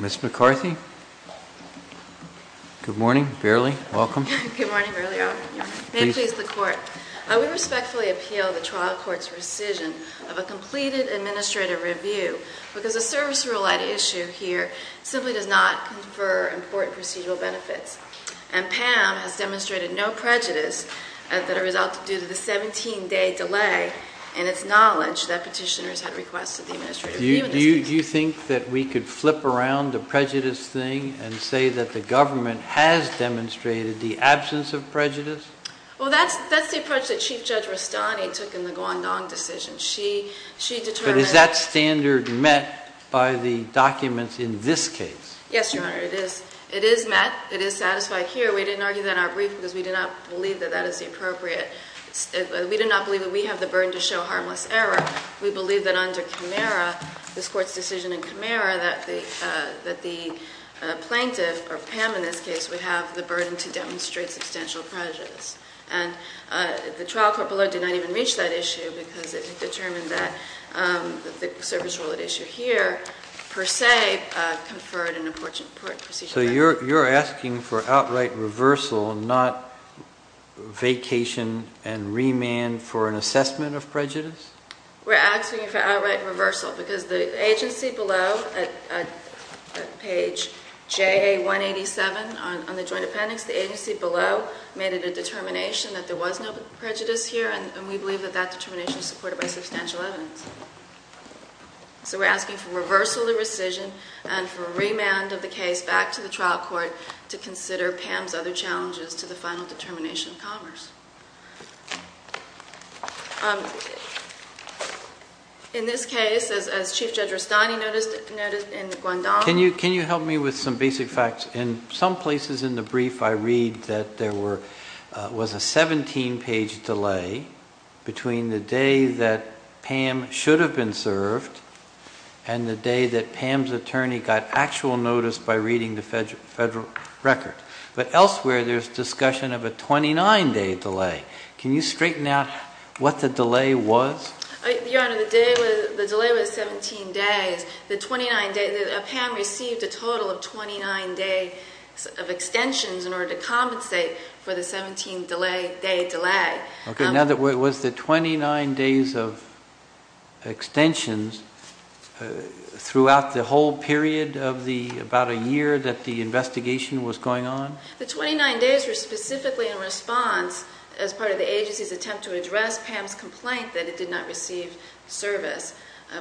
Ms. McCarthy? Good morning, Berly, welcome. Good morning, Berly. May it please the Court, I would respectfully appeal the trial court's rescission of a completed administrative review because the service rule at issue here simply does not confer important procedural benefits, and Pam has demonstrated no prejudice as a result due to the 17-day delay in its knowledge that petitioners had requested the administrative review. Do you think that we could flip around the prejudice thing and say that the government has demonstrated the absence of prejudice? Well, that's that's the approach that Chief Judge Rustani took in the Guangdong decision. She determined... But is that standard met by the documents in this case? Yes, Your Honor, it is. It is met. It is satisfied here. We didn't argue that in our brief because we do not believe that that is the appropriate... We do not believe that we have the burden to show harmless error. We believe that under Camara, this Court's decision in Camara, that the plaintiff, or Pam in this case, would have the burden to demonstrate substantial prejudice. And the trial court below did not even reach that issue because it determined that the service rule at issue here, per se, conferred an important procedural benefit. So you're asking for outright reversal, not vacation and remand for an assessment of prejudice? We're asking for outright reversal because the agency below, at page JA 187 on the joint appendix, the agency below made it a determination that there was no prejudice here, and we believe that that determination is supported by substantial evidence. So we're asking for reversal of the rescission and for remand of the case back to the trial court to consider Pam's other challenges to the final determination of commerce. In this case, as Chief Judge Rustani noted in the Guangdong... Can you help me with some basic facts? In some places in the brief, I read that there was a 17-page delay between the day that Pam should have been served and the day that Pam's attorney got actual notice by reading the federal record. But elsewhere, there's discussion of a 29-day delay. Can you straighten out what the delay was? Your Honor, the delay was 17 days. Pam received a total of 29 days of extensions in order to compensate for the 17-day delay. Okay, now was the 29 days of extensions throughout the whole period of about a year that the investigation was going on? The 29 days were specifically in response as part of the agency's attempt to address Pam's complaint that it did not receive service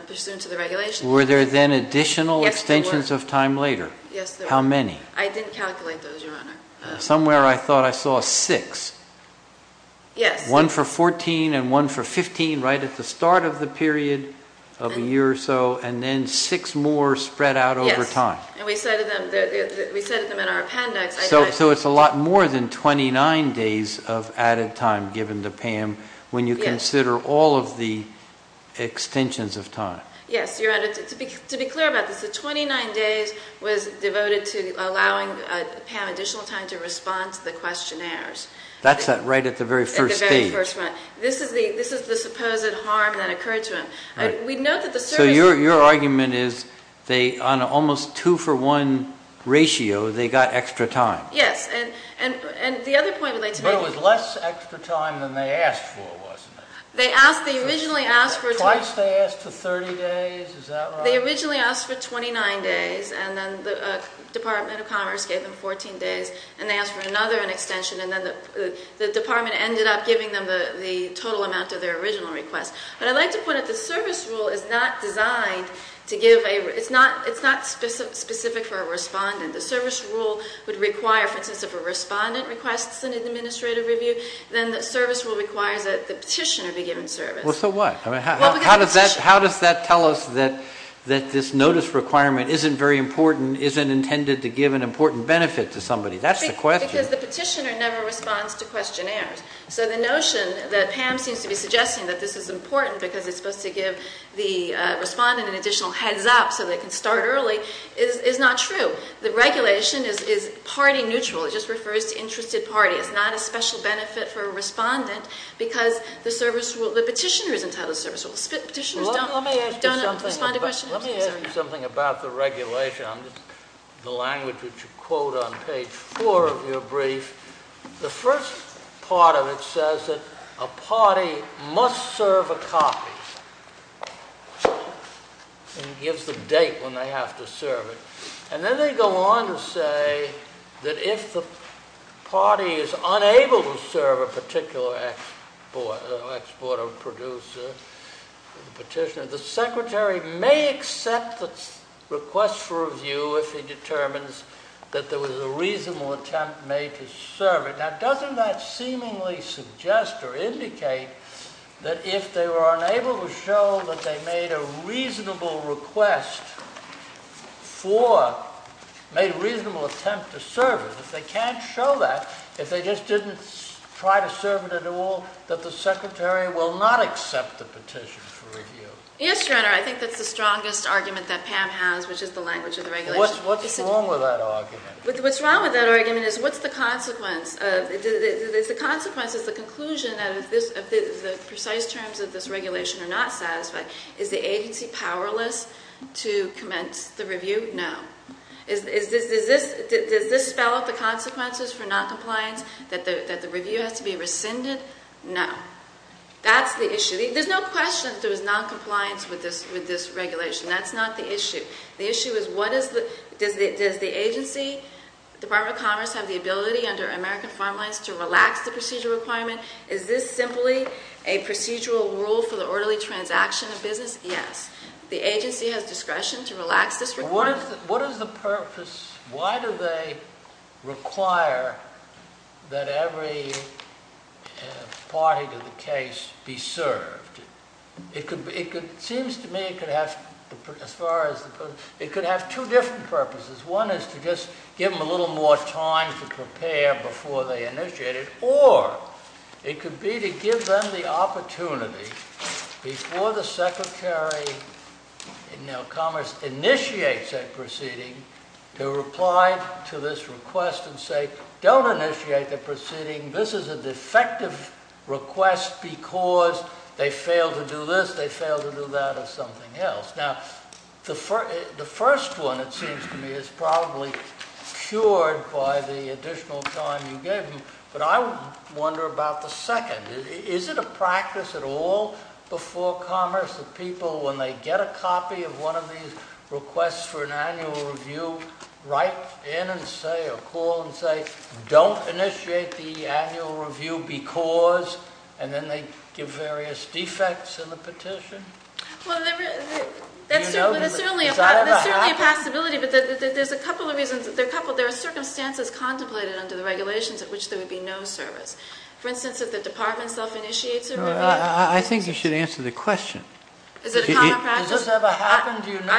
pursuant to the regulations. Were there then additional extensions of time later? Yes, there were. How many? I didn't calculate those, Your Honor. Somewhere I thought I saw six. Yes. One for 14 and one for 15 right at the start of the period of a year or so, and then six more spread out over time. Yes, and we cited them in our appendix. So it's a lot more than 29 days of added time given to Pam when you consider all of the extensions of time. Yes, Your Honor. To be clear about this, the 29 days was devoted to allowing Pam additional time to respond to the questionnaires. That's right at the very first stage. At the very first one. This is the supposed harm that occurred to him. We note that the service... So your argument is on an almost two for one ratio, they got extra time. Yes, and the other point I would like to make... But it was less extra time than they asked for, wasn't it? They asked, they originally asked for... Twice they asked for 30 days, is that right? They originally asked for 29 days, and then the Department of Commerce gave them 14 days, and they asked for another extension, and then the department ended up giving them the total amount of their original request. But I'd like to point out that the service rule is not designed to give a... It's not specific for a respondent. The service rule would require, for instance, if a respondent requests an administrative review, then the service rule requires that the petitioner be given service. Well, so what? How does that tell us that this notice requirement isn't very important, isn't intended to give an important benefit to somebody? That's the question. Because the petitioner never responds to questionnaires. So the notion that Pam seems to be suggesting that this is important because it's supposed to give the respondent an additional heads up so they can start early is not true. The regulation is party neutral. It just refers to interested parties. Not a special benefit for a respondent because the petitioner is entitled to service rules. Petitioners don't respond to questionnaires. Let me ask you something about the regulation, the language which you quote on page four of your brief. The first part of it says that a party must serve a copy. And it gives the date when they have to serve it. And then they go on to say that if the party is unable to serve a particular exporter, producer, petitioner, the secretary may accept the request for review if he determines that there was a reasonable attempt made to serve it. Now, doesn't that seemingly suggest or indicate that if they were unable to show that they made a reasonable request for, made a reasonable attempt to serve it, if they can't show that, if they just didn't try to serve it at all, that the secretary will not accept the petition for review? Yes, your honor, I think that's the strongest argument that Pam has, which is the language of the regulation. What's wrong with that argument? What's wrong with that argument is what's the consequence? The consequence is the conclusion that if the precise terms of this regulation are not satisfied, is the agency powerless to commence the review? No. Does this spell out the consequences for non-compliance, that the review has to be rescinded? No. That's the issue. There's no question there was non-compliance with this regulation. That's not the issue. The issue is what is the, does the agency, Department of Commerce, have the ability under American Farm Laws to relax the procedure requirement? Is this simply a procedural rule for the orderly transaction of business? Yes. The agency has discretion to relax this requirement. What is the purpose, why do they require that every party to the case be served? It seems to me it could have, as far as, it could have two different purposes. One is to just give them a little more time to prepare before they initiate it, or it could be to give them the opportunity before the Secretary of Commerce initiates that proceeding to reply to this request and say, don't initiate the proceeding. This is a defective request because they failed to do this, they failed to do that, or something else. Now, the first one, it seems to me, is probably cured by the additional time you gave me. But I wonder about the second. Is it a practice at all before Commerce that people, when they get a copy of one of these requests for an annual review, write in and say, or call and say, don't initiate the annual review because, and then they give various defects in the petition? Well, that's certainly a possibility, but there's a couple of reasons. There are circumstances contemplated under the regulations at which there would be no service. For instance, if the department self-initiates a review. I think you should answer the question. Is it a common practice? Does this ever happen? Do you know?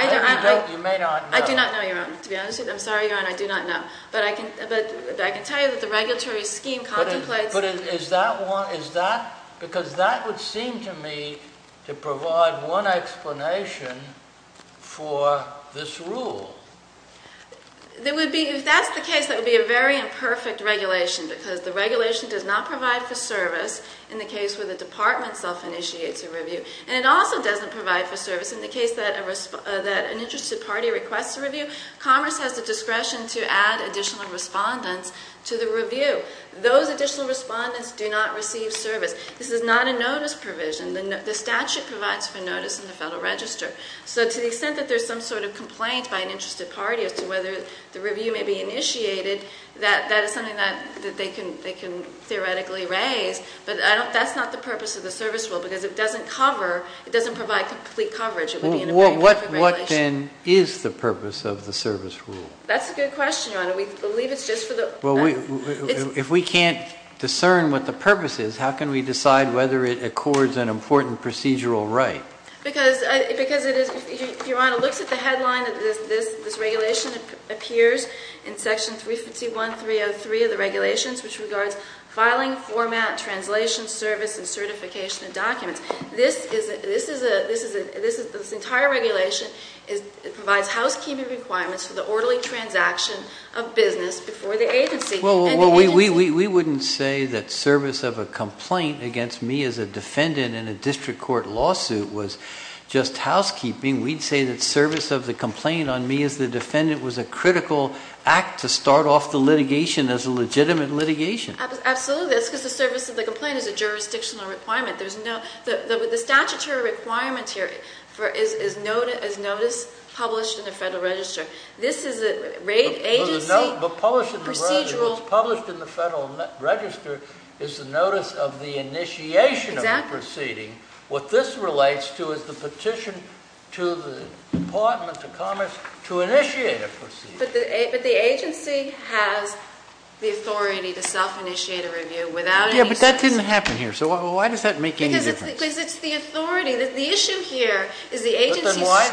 You may not know. I do not know, Your Honor, to be honest with you. I'm sorry, Your Honor, I do not know. But I can tell you that the regulatory scheme contemplates- But is that one, is that, because that would seem to me to provide one explanation for this rule. There would be, if that's the case, that would be a very imperfect regulation, because the regulation does not provide for service in the case where the department self-initiates a review. And it also doesn't provide for service in the case that an interested party requests a review. Commerce has the discretion to add additional respondents to the review. Those additional respondents do not receive service. This is not a notice provision. The statute provides for notice in the Federal Register. So to the extent that there's some sort of complaint by an interested party as to whether the review may be initiated, that is something that they can theoretically raise. But that's not the purpose of the service rule, because it doesn't cover, it doesn't provide complete coverage. It would be an imperfect regulation. What then is the purpose of the service rule? That's a good question, Your Honor. We believe it's just for the- Well, if we can't discern what the purpose is, how can we decide whether it accords an important procedural right? Because it is, Your Honor, it looks at the headline of this regulation. It appears in section 351.303 of the regulations, which regards filing, format, translation, service, and certification of documents. This entire regulation provides housekeeping requirements for the orderly transaction of business before the agency. And the agency- We wouldn't say that service of a complaint against me as a defendant in a district court lawsuit was just housekeeping. We'd say that service of the complaint on me as the defendant was a critical act to start off the litigation as a legitimate litigation. Absolutely, that's because the service of the complaint is a jurisdictional requirement. There's no, the statutory requirement here is notice published in the Federal Register. This is an agency procedural- But published in the Federal Register is the notice of the initiation of the proceeding. What this relates to is the petition to the Department of Commerce to initiate a proceeding. But the agency has the authority to self-initiate a review without any- Yeah, but that didn't happen here. So why does that make any difference? Because it's the authority. The issue here is the agency's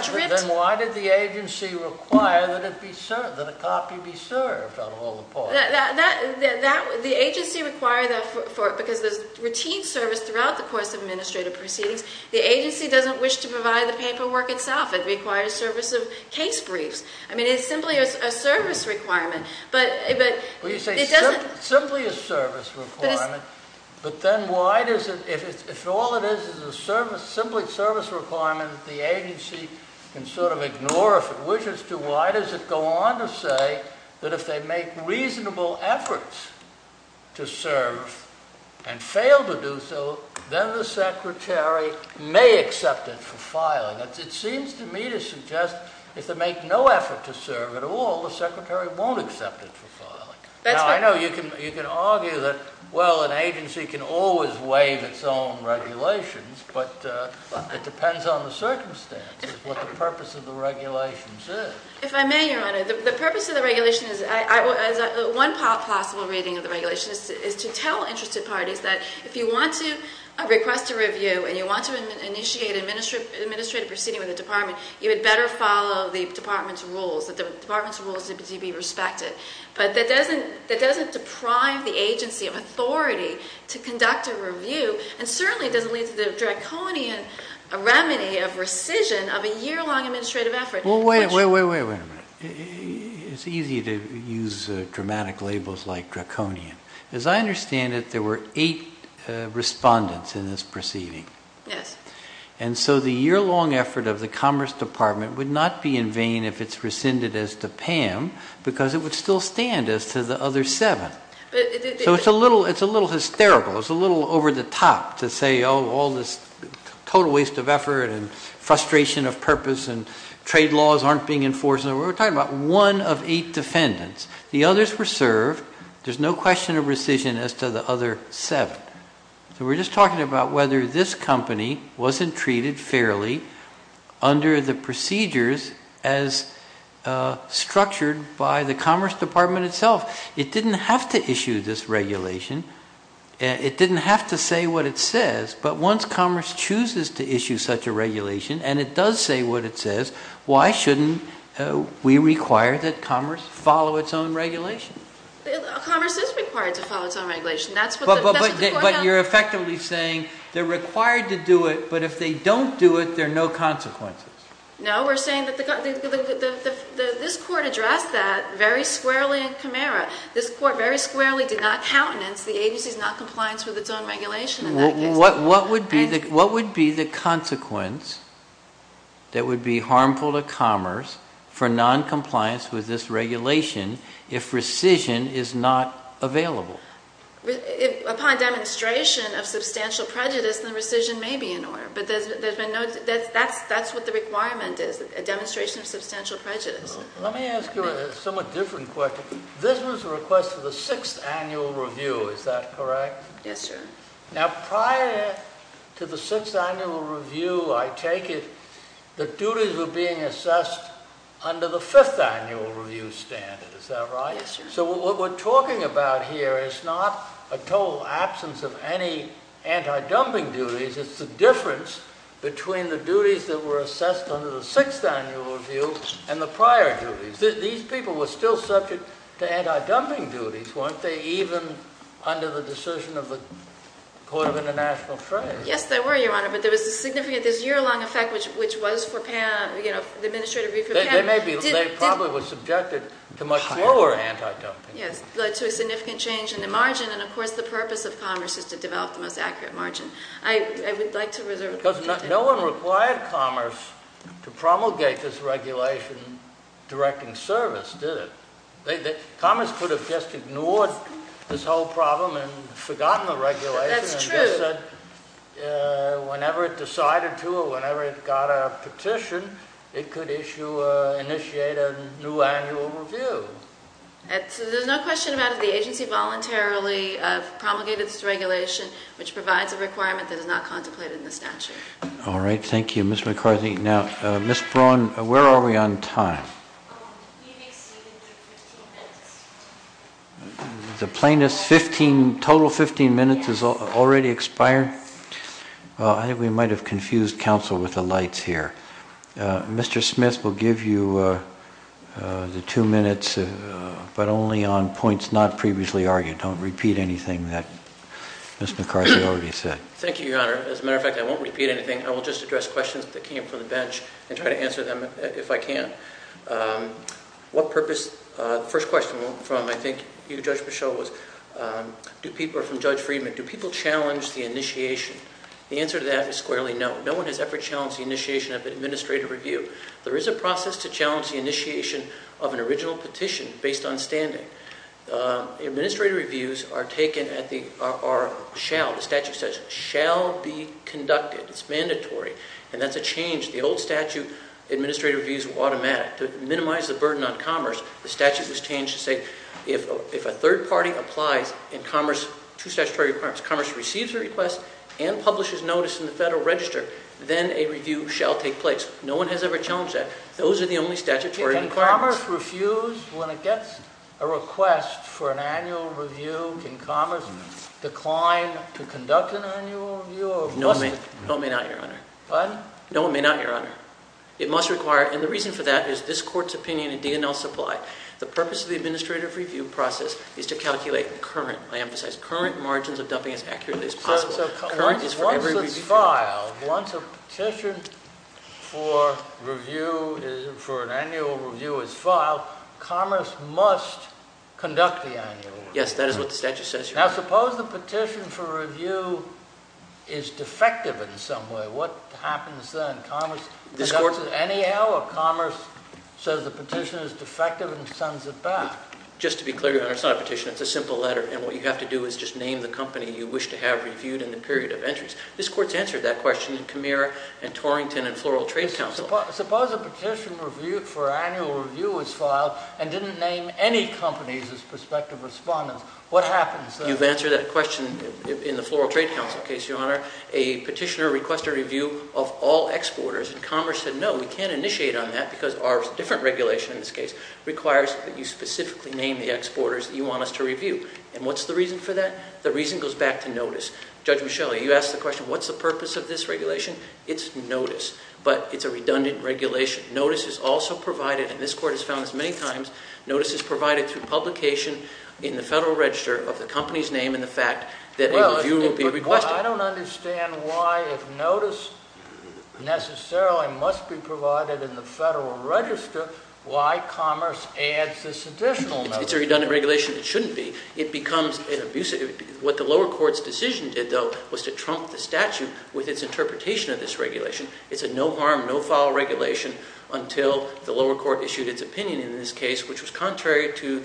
strict- Then why did the agency require that a copy be served out of all the parts? The agency required that because there's routine service throughout the course of administrative proceedings. The agency doesn't wish to provide the paperwork itself. It requires service of case briefs. I mean, it's simply a service requirement. But it doesn't- Simply a service requirement. But then why does it, if all it is is a service, simply a service requirement, the agency can sort of ignore if it wishes to, why does it go on to say that if they make reasonable efforts to serve and fail to do so, then the secretary may accept it for filing. It seems to me to suggest if they make no effort to serve at all, the secretary won't accept it for filing. Now, I know you can argue that, well, an agency can always waive its own regulations, but it depends on the circumstances, what the purpose of the regulations is. If I may, Your Honor, the purpose of the regulation is, one possible reading of the regulation is to tell interested parties that if you want to request a review and you want to initiate an administrative proceeding with the department, you would better follow the department's rules, that the department's rules should be respected. But that doesn't deprive the agency of authority to conduct a review, and certainly doesn't lead to the draconian remedy of rescission of a year-long administrative effort. Well, wait, wait, wait, wait a minute. It's easy to use dramatic labels like draconian. As I understand it, there were eight respondents in this proceeding. Yes. And so the year-long effort of the Commerce Department would not be in vain if it's rescinded as to PAM, because it would still stand as to the other seven. So it's a little hysterical, it's a little over the top to say, oh, all this total waste of effort and frustration of purpose and trade laws aren't being enforced, and we're talking about one of eight defendants. The others were served, there's no question of rescission as to the other seven. So we're just talking about whether this company wasn't treated fairly under the procedures as structured by the Commerce Department itself. It didn't have to issue this regulation. It didn't have to say what it says. But once Commerce chooses to issue such a regulation, and it does say what it says, why shouldn't we require that Commerce follow its own regulation? Commerce is required to follow its own regulation. That's what the court found. But you're effectively saying they're required to do it, but if they don't do it, there are no consequences. No, we're saying that this court addressed that very squarely in Camara. This court very squarely did not countenance the agency's non-compliance with its own regulation in that case. What would be the consequence that would be harmful to Commerce for non-compliance with this regulation if rescission is not available? Upon demonstration of substantial prejudice, then rescission may be in order. But that's what the requirement is, a demonstration of substantial prejudice. Let me ask you a somewhat different question. This was a request for the sixth annual review, is that correct? Yes, sir. Now prior to the sixth annual review, I take it the duties were being assessed under the fifth annual review standard, is that right? Yes, sir. So what we're talking about here is not a total absence of any anti-dumping duties, it's the difference between the duties that were assessed under the sixth annual review and the prior duties. These people were still subject to anti-dumping duties, weren't they, even under the decision of the Court of International Trade? Yes, they were, Your Honor, but there was a significant, this year-long effect, which was for PAM, the administrative review for PAM. They probably were subjected to much slower anti-dumping. Yes, led to a significant change in the margin, and of course the purpose of commerce is to develop the most accurate margin. I would like to reserve- Because no one required commerce to promulgate this regulation directing service, did it? Commerce could have just ignored this whole problem and forgotten the regulation and just said whenever it decided to or whenever it got a petition, it could issue or initiate a new annual review. So there's no question about it, the agency voluntarily promulgated this regulation, which provides a requirement that is not contemplated in the statute. All right, thank you, Ms. McCarthy. Now, Ms. Braun, where are we on time? We've exceeded the 15 minutes. The plaintiff's total 15 minutes has already expired? Your Honor, I think we might have confused counsel with the lights here. Mr. Smith will give you the two minutes, but only on points not previously argued, don't repeat anything that Ms. McCarthy already said. Thank you, Your Honor. As a matter of fact, I won't repeat anything. I will just address questions that came from the bench and try to answer them if I can. What purpose, first question from, I think, you, Judge Bichot was, do people, or from Judge Friedman, do people challenge the initiation? The answer to that is squarely no. No one has ever challenged the initiation of an administrative review. There is a process to challenge the initiation of an original petition based on standing. Administrative reviews are taken at the, are, shall, the statute says, shall be conducted. It's mandatory, and that's a change. The old statute, administrative reviews were automatic. To minimize the burden on commerce, the statute was changed to say, if a third party applies in commerce to statutory requirements, commerce receives a request and publishes notice in the federal register, then a review shall take place. No one has ever challenged that. Those are the only statutory requirements. Can commerce refuse when it gets a request for an annual review? Can commerce decline to conduct an annual review? No, it may not, Your Honor. Pardon? No, it may not, Your Honor. It must require, and the reason for that is this court's opinion in DNL Supply. The purpose of the administrative review process is to calculate current, I emphasize, current margins of dumping as accurately as possible. Current is for every review. Once it's filed, once a petition for an annual review is filed, commerce must conduct the annual review. Yes, that is what the statute says, Your Honor. Now suppose the petition for review is defective in some way. What happens then? Commerce- This court- Then sends it back. Just to be clear, Your Honor, it's not a petition, it's a simple letter. And what you have to do is just name the company you wish to have reviewed in the period of entrance. This court's answered that question in Camara and Torrington and Floral Trade Council. Suppose a petition for annual review was filed and didn't name any companies as prospective respondents. What happens then? You've answered that question in the Floral Trade Council case, Your Honor. A petitioner requested a review of all exporters, and commerce said no, we can't initiate on that because our different regulation in this case requires that you specifically name the exporters that you want us to review. And what's the reason for that? The reason goes back to notice. Judge Michelli, you asked the question, what's the purpose of this regulation? It's notice, but it's a redundant regulation. Notice is also provided, and this court has found this many times, notice is provided through publication in the federal register of the company's name and the fact that a review will be requested. Well, I don't understand why if notice necessarily must be provided in the federal register, why commerce adds this additional notice. It's a redundant regulation, it shouldn't be. It becomes an abusive, what the lower court's decision did, though, was to trump the statute with its interpretation of this regulation. It's a no harm, no foul regulation until the lower court issued its opinion in this case, which was contrary to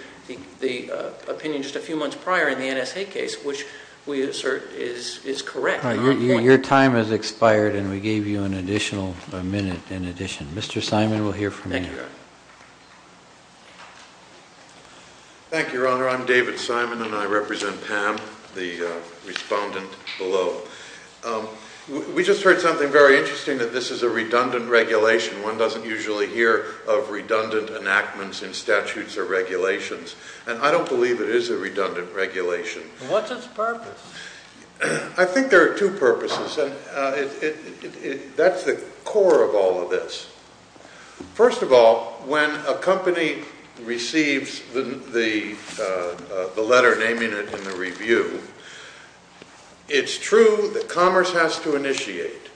the opinion just a few months prior in the NSA case, which we assert is correct. Your time has expired, and we gave you an additional minute in addition. Mr. Simon will hear from you. Thank you, Your Honor. Thank you, Your Honor. I'm David Simon, and I represent Pam, the respondent below. We just heard something very interesting, that this is a redundant regulation. One doesn't usually hear of redundant enactments in statutes or regulations, and I don't believe it is a redundant regulation. What's its purpose? I think there are two purposes, and that's the core of all of this. First of all, when a company receives the letter naming it in the review, it's true that commerce has to initiate,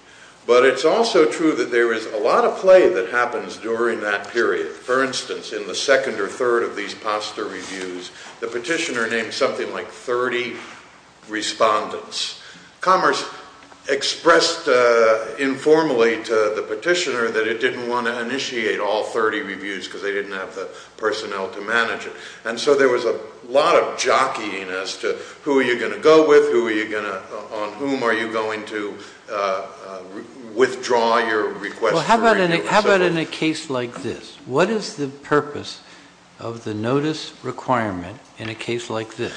but it's also true that there is a lot of play that happens during that period. For instance, in the second or third of these poster reviews, the petitioner named something like 30 respondents. Commerce expressed informally to the petitioner that it didn't want to initiate all 30 reviews because they didn't have the personnel to manage it. And so there was a lot of jockeying as to who are you going to go with? Who are you going to, on whom are you going to withdraw your request for review? How about in a case like this? What is the purpose of the notice requirement in a case like this?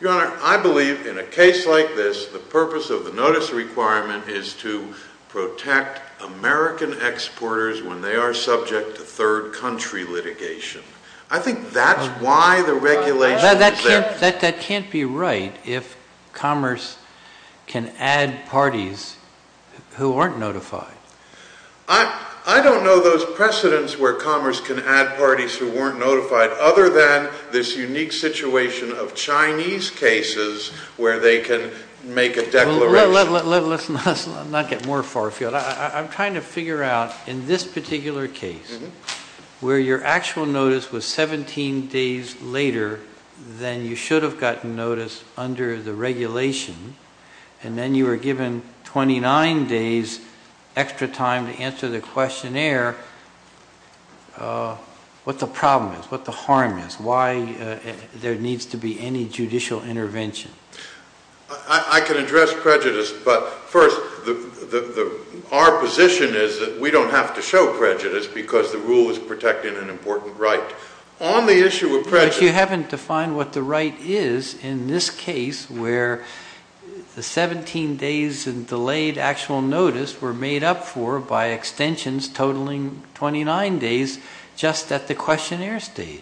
Your Honor, I believe in a case like this, the purpose of the notice requirement is to protect American exporters when they are subject to third country litigation. I think that's why the regulation is there. That can't be right if commerce can add parties who aren't notified. I don't know those precedents where commerce can add parties who weren't notified, other than this unique situation of Chinese cases where they can make a declaration. Let's not get more far field. I'm trying to figure out, in this particular case, where your actual notice was 17 days later, then you should have gotten notice under the regulation, and then you were given 29 days extra time to answer the questionnaire. What the problem is, what the harm is, why there needs to be any judicial intervention. I can address prejudice, but first, our position is that we don't have to show prejudice because the rule is protecting an important right. On the issue of prejudice- But you haven't defined what the right is in this case where the 17 days and the delayed actual notice were made up for by extensions totaling 29 days, just at the questionnaire stage.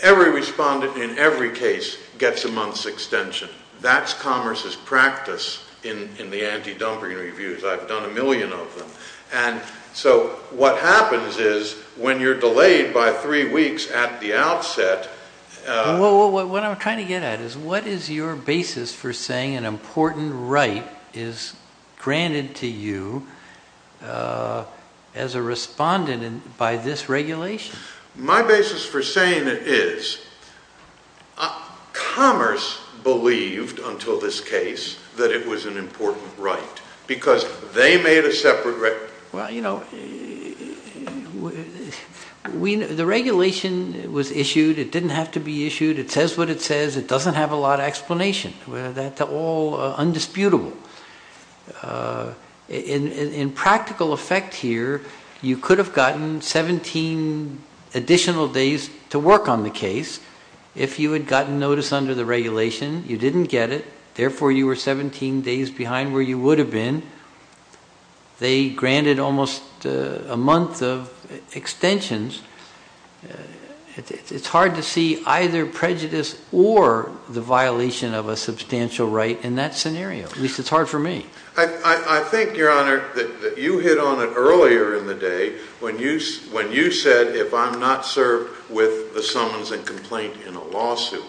Every respondent in every case gets a month's extension. That's commerce's practice in the anti-dumpering reviews. I've done a million of them. And so what happens is, when you're delayed by three weeks at the outset- Well, what I'm trying to get at is, what is your basis for saying an important right is granted to you as a respondent by this regulation? My basis for saying it is, commerce believed, until this case, that it was an important right, because they made a separate- Well, the regulation was issued. It didn't have to be issued. It says what it says. It doesn't have a lot of explanation. That's all undisputable. In practical effect here, you could have gotten 17 additional days to work on the case if you had gotten notice under the regulation, you didn't get it. Therefore, you were 17 days behind where you would have been. They granted almost a month of extensions. It's hard to see either prejudice or the violation of a substantial right in that scenario. At least it's hard for me. I think, Your Honor, that you hit on it earlier in the day when you said, if I'm not served with the summons and complaint in a lawsuit.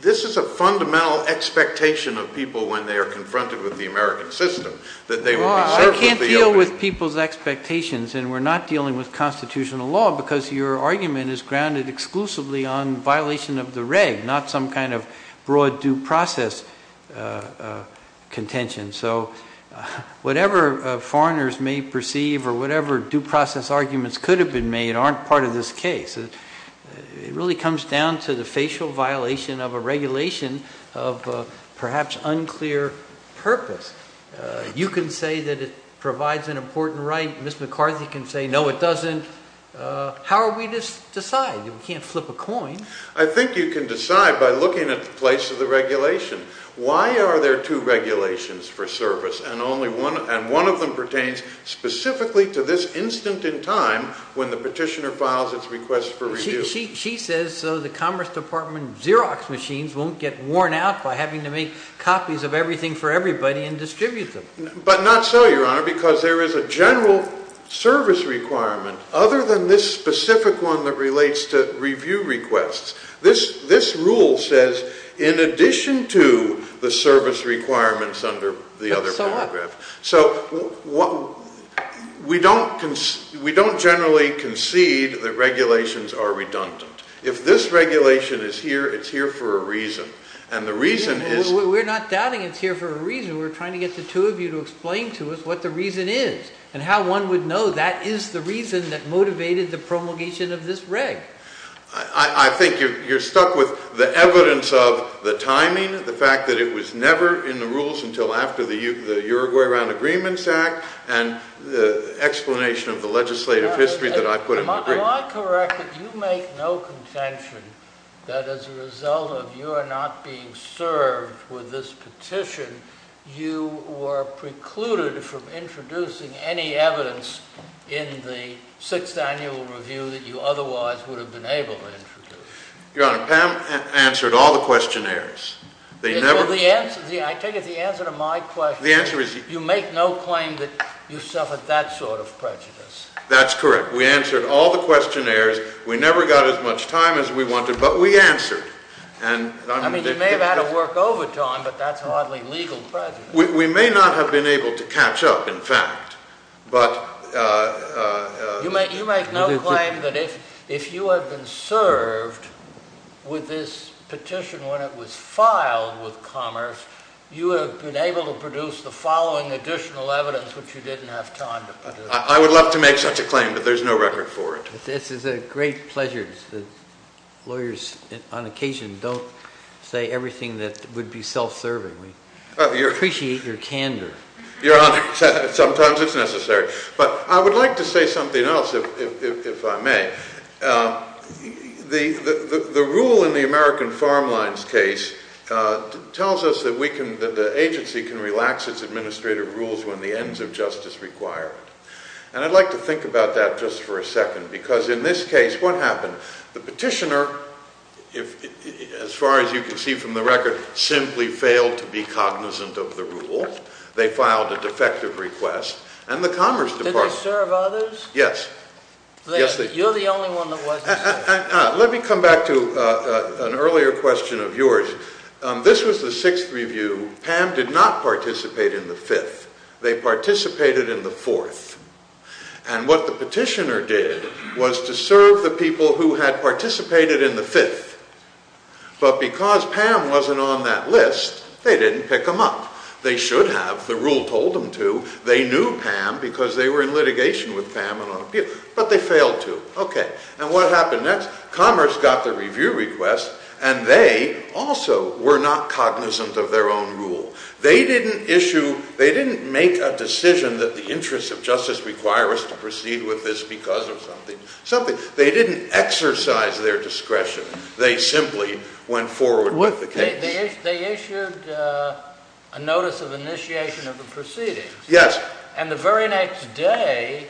This is a fundamental expectation of people when they are confronted with the American system, that they will be served with the opinion- I can't deal with people's expectations, and we're not dealing with constitutional law. Because your argument is grounded exclusively on violation of the reg, not some kind of broad due process contention. So whatever foreigners may perceive or whatever due process arguments could have been made aren't part of this case. It really comes down to the facial violation of a regulation of perhaps unclear purpose. You can say that it provides an important right. Ms. McCarthy can say, no, it doesn't. How are we to decide? We can't flip a coin. I think you can decide by looking at the place of the regulation. Why are there two regulations for service, and one of them pertains specifically to this instant in time when the petitioner files its request for review? She says so the Commerce Department Xerox machines won't get worn out by having to make copies of everything for everybody and distribute them. But not so, your honor, because there is a general service requirement other than this specific one that relates to review requests. This rule says in addition to the service requirements under the other paragraph. So we don't generally concede that regulations are redundant. If this regulation is here, it's here for a reason. And the reason is- We're not doubting it's here for a reason. We're trying to get the two of you to explain to us what the reason is and how one would know that is the reason that motivated the promulgation of this reg. I think you're stuck with the evidence of the timing, the fact that it was never in the rules until after the Uruguay Round Agreements Act, and the explanation of the legislative history that I put in the agreement. Am I correct that you make no contention that as a result of you are not being served with this petition, you were precluded from introducing any evidence in the sixth annual review that you otherwise would have been able to introduce? Your Honor, Pam answered all the questionnaires. They never- I take it the answer to my question- The answer is- You make no claim that you suffered that sort of prejudice. That's correct. We answered all the questionnaires. We never got as much time as we wanted, but we answered. And I'm- I mean, you may have had to work overtime, but that's hardly legal prejudice. We may not have been able to catch up, in fact, but- You make no claim that if you had been served with this petition when it was filed with Commerce, you would have been able to produce the following additional evidence, which you didn't have time to produce. I would love to make such a claim, but there's no record for it. This is a great pleasure. The lawyers, on occasion, don't say everything that would be self-serving. We appreciate your candor. Your Honor, sometimes it's necessary. But I would like to say something else, if I may. The rule in the American Farm Line's case tells us that we can, that the agency can relax its administrative rules when the ends of justice require it. And I'd like to think about that just for a second, because in this case, what happened? The petitioner, as far as you can see from the record, simply failed to be cognizant of the rule. They filed a defective request. And the Commerce Department- Did they serve others? Yes. Yes, they did. You're the only one that wasn't served. Let me come back to an earlier question of yours. This was the Sixth Review. PAM did not participate in the Fifth. They participated in the Fourth. And what the petitioner did was to serve the people who had participated in the Fifth. But because PAM wasn't on that list, they didn't pick them up. They should have. The rule told them to. They knew PAM because they were in litigation with PAM and on appeal. But they failed to. Okay. And what happened next? Commerce got the review request, and they also were not cognizant of their own rule. They didn't issue, they didn't make a decision that the interests of justice require us to proceed with this because of something, something. They didn't exercise their discretion. They simply went forward with the case. They issued a notice of initiation of the proceedings. Yes. And the very next day,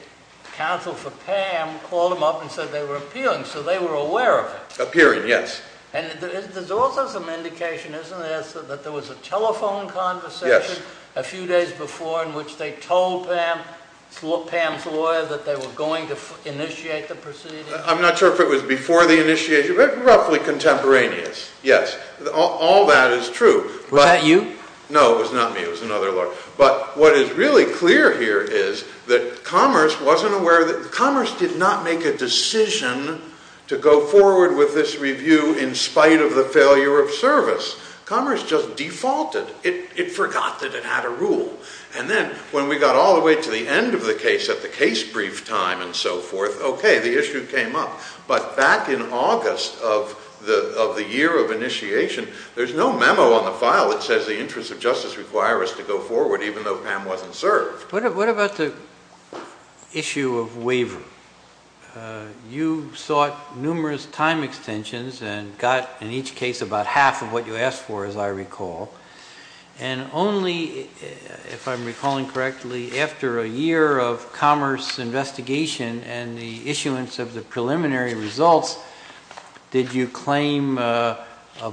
counsel for PAM called them up and said they were appealing. So they were aware of it. Appearing, yes. And there's also some indication, isn't there, that there was a telephone conversation a few days before in which they told PAM's lawyer that they were going to initiate the proceedings? I'm not sure if it was before the initiation, but roughly contemporaneous, yes. All that is true. Was that you? No, it was not me. It was another lawyer. But what is really clear here is that Commerce wasn't aware that, Commerce did not make a decision to go forward with this review in spite of the failure of service. Commerce just defaulted. It forgot that it had a rule. And then when we got all the way to the end of the case at the case brief time and so forth, okay, the issue came up. But back in August of the year of initiation, there's no memo on the file that says the interests of justice require us to go forward even though PAM wasn't served. What about the issue of waiver? You sought numerous time extensions and got, in each case, about half of what you asked for, as I recall. And only, if I'm recalling correctly, after a year of Commerce investigation and the issuance of the preliminary results, did you claim a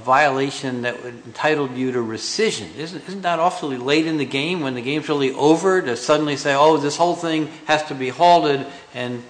violation that entitled you to rescission. Isn't that awfully late in the game? When the game's really over to suddenly say, oh, this whole thing has to be halted and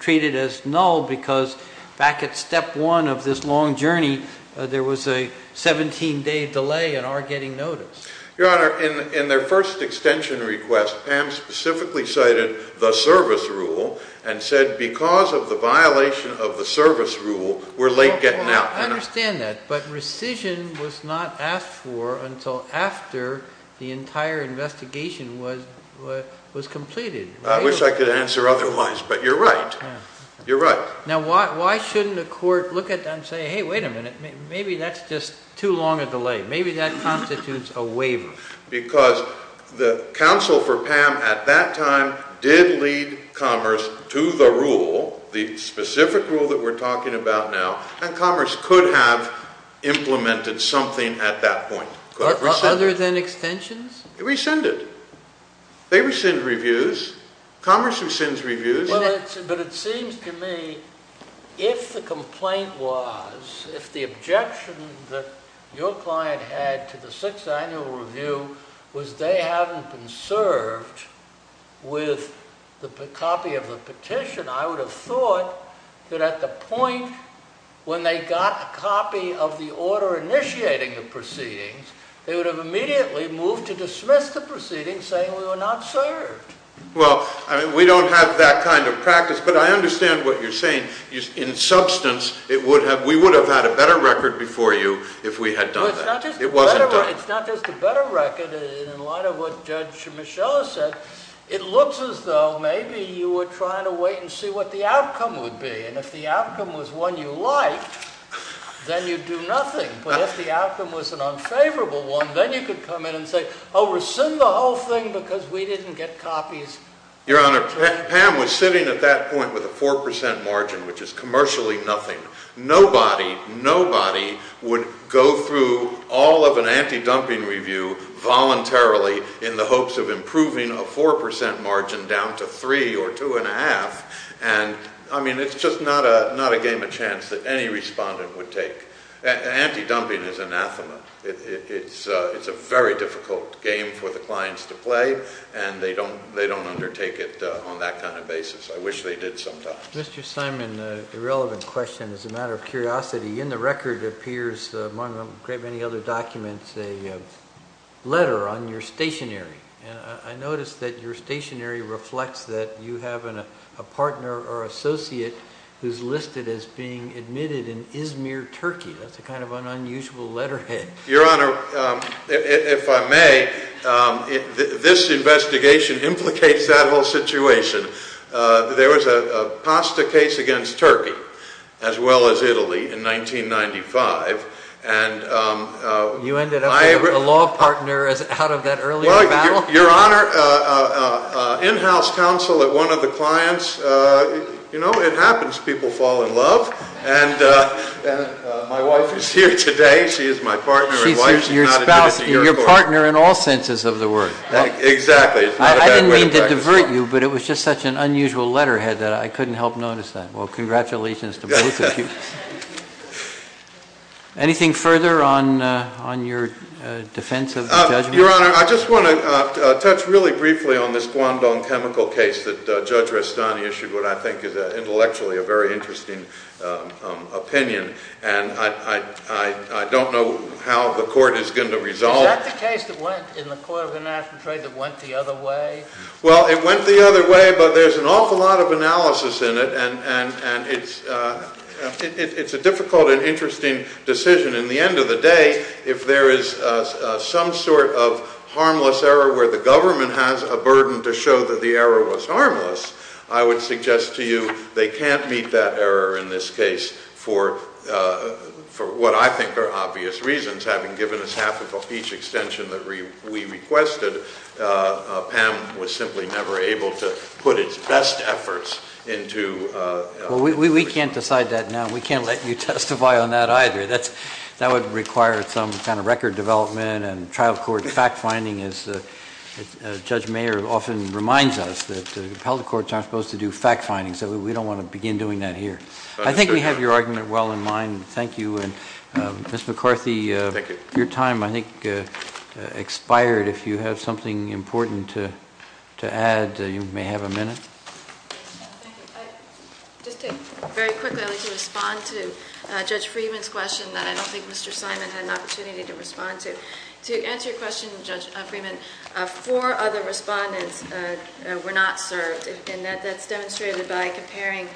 treated as null because back at step one of this long journey, there was a 17-day delay in our getting notice. Your Honor, in their first extension request, PAM specifically cited the service rule and said, because of the violation of the service rule, we're late getting out. I understand that. But rescission was not asked for until after the entire investigation was completed. I wish I could answer otherwise, but you're right. You're right. Now, why shouldn't a court look at that and say, hey, wait a minute. Maybe that's just too long a delay. Maybe that constitutes a waiver. Because the counsel for PAM at that time did lead Commerce to the rule, the specific rule that we're talking about now. And Commerce could have implemented something at that point. Could have rescinded. Other than extensions? It rescinded. They rescind reviews. Commerce rescinds reviews. But it seems to me, if the complaint was, if the objection that your client had to the sixth annual review was they hadn't been served with the copy of the petition, I would have thought that at the point when they got a copy of the order initiating the proceedings, they would have immediately moved to dismiss the proceedings, saying we were not served. Well, we don't have that kind of practice. But I understand what you're saying. In substance, we would have had a better record before you if we had done that. It wasn't done. It's not just a better record in light of what Judge Michella said. It looks as though maybe you were trying to wait and see what the outcome would be. And if the outcome was one you liked, then you'd do nothing. But if the outcome was an unfavorable one, then you could come in and say, I'll rescind the whole thing because we didn't get copies. Your Honor, Pam was sitting at that point with a 4% margin, which is commercially nothing. Nobody, nobody would go through all of an anti-dumping review voluntarily in the hopes of improving a 4% margin down to three or two and a half. And I mean, it's just not a game of chance that any respondent would take. Anti-dumping is anathema. It's a very difficult game for the clients to play, and they don't undertake it on that kind of basis. I wish they did sometimes. Mr. Simon, a relevant question as a matter of curiosity. In the record appears, among a great many other documents, a letter on your stationery. And I noticed that your stationery reflects that you have a partner or associate who's listed as being admitted in Izmir, Turkey. That's a kind of an unusual letterhead. Your Honor, if I may, this investigation implicates that whole situation. There was a pasta case against Turkey, as well as Italy, in 1995. And- You ended up with a law partner out of that earlier battle? Your Honor, in-house counsel at one of the clients, it happens, people fall in love, and my wife is here today. She is my partner in life, she's not admitted to your court. Your spouse, your partner in all senses of the word. Exactly, it's not a bad way to put it. I didn't mean to divert you, but it was just such an unusual letterhead that I couldn't help notice that. Well, congratulations to both of you. Anything further on your defense of the judgment? Your Honor, I just want to touch really briefly on this Guandong chemical case that Judge Rastani issued what I think is intellectually a very interesting opinion. And I don't know how the court is going to resolve- Is that the case that went in the Court of International Trade that went the other way? Well, it went the other way, but there's an awful lot of analysis in it, and it's a difficult and interesting decision. In the end of the day, if there is some sort of harmless error where the government has a burden to show that the error was harmless. I would suggest to you, they can't meet that error in this case for what I think are obvious reasons, having given us half of each extension that we requested. PAM was simply never able to put its best efforts into- Well, we can't decide that now. We can't let you testify on that either. That would require some kind of record development and trial court fact finding, as Judge Mayer often reminds us, that appellate courts aren't supposed to do fact finding. So we don't want to begin doing that here. I think we have your argument well in mind. Thank you, and Ms. McCarthy, your time I think expired. If you have something important to add, you may have a minute. Thank you. Just very quickly, I'd like to respond to Judge Freeman's question that I don't think Mr. Simon had an opportunity to respond to. To answer your question, Judge Freeman, four other respondents were not served, and that's demonstrated by comparing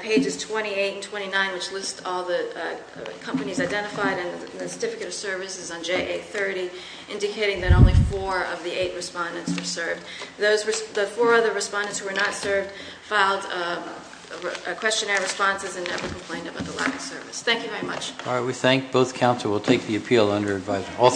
pages 28 and 29, which list all the companies identified in the certificate of services on J830, indicating that only four of the eight respondents were served. The four other respondents who were not served filed a questionnaire responses and never complained about the lack of service. Thank you very much. All right, we thank both counsel. We'll take the appeal under advisory.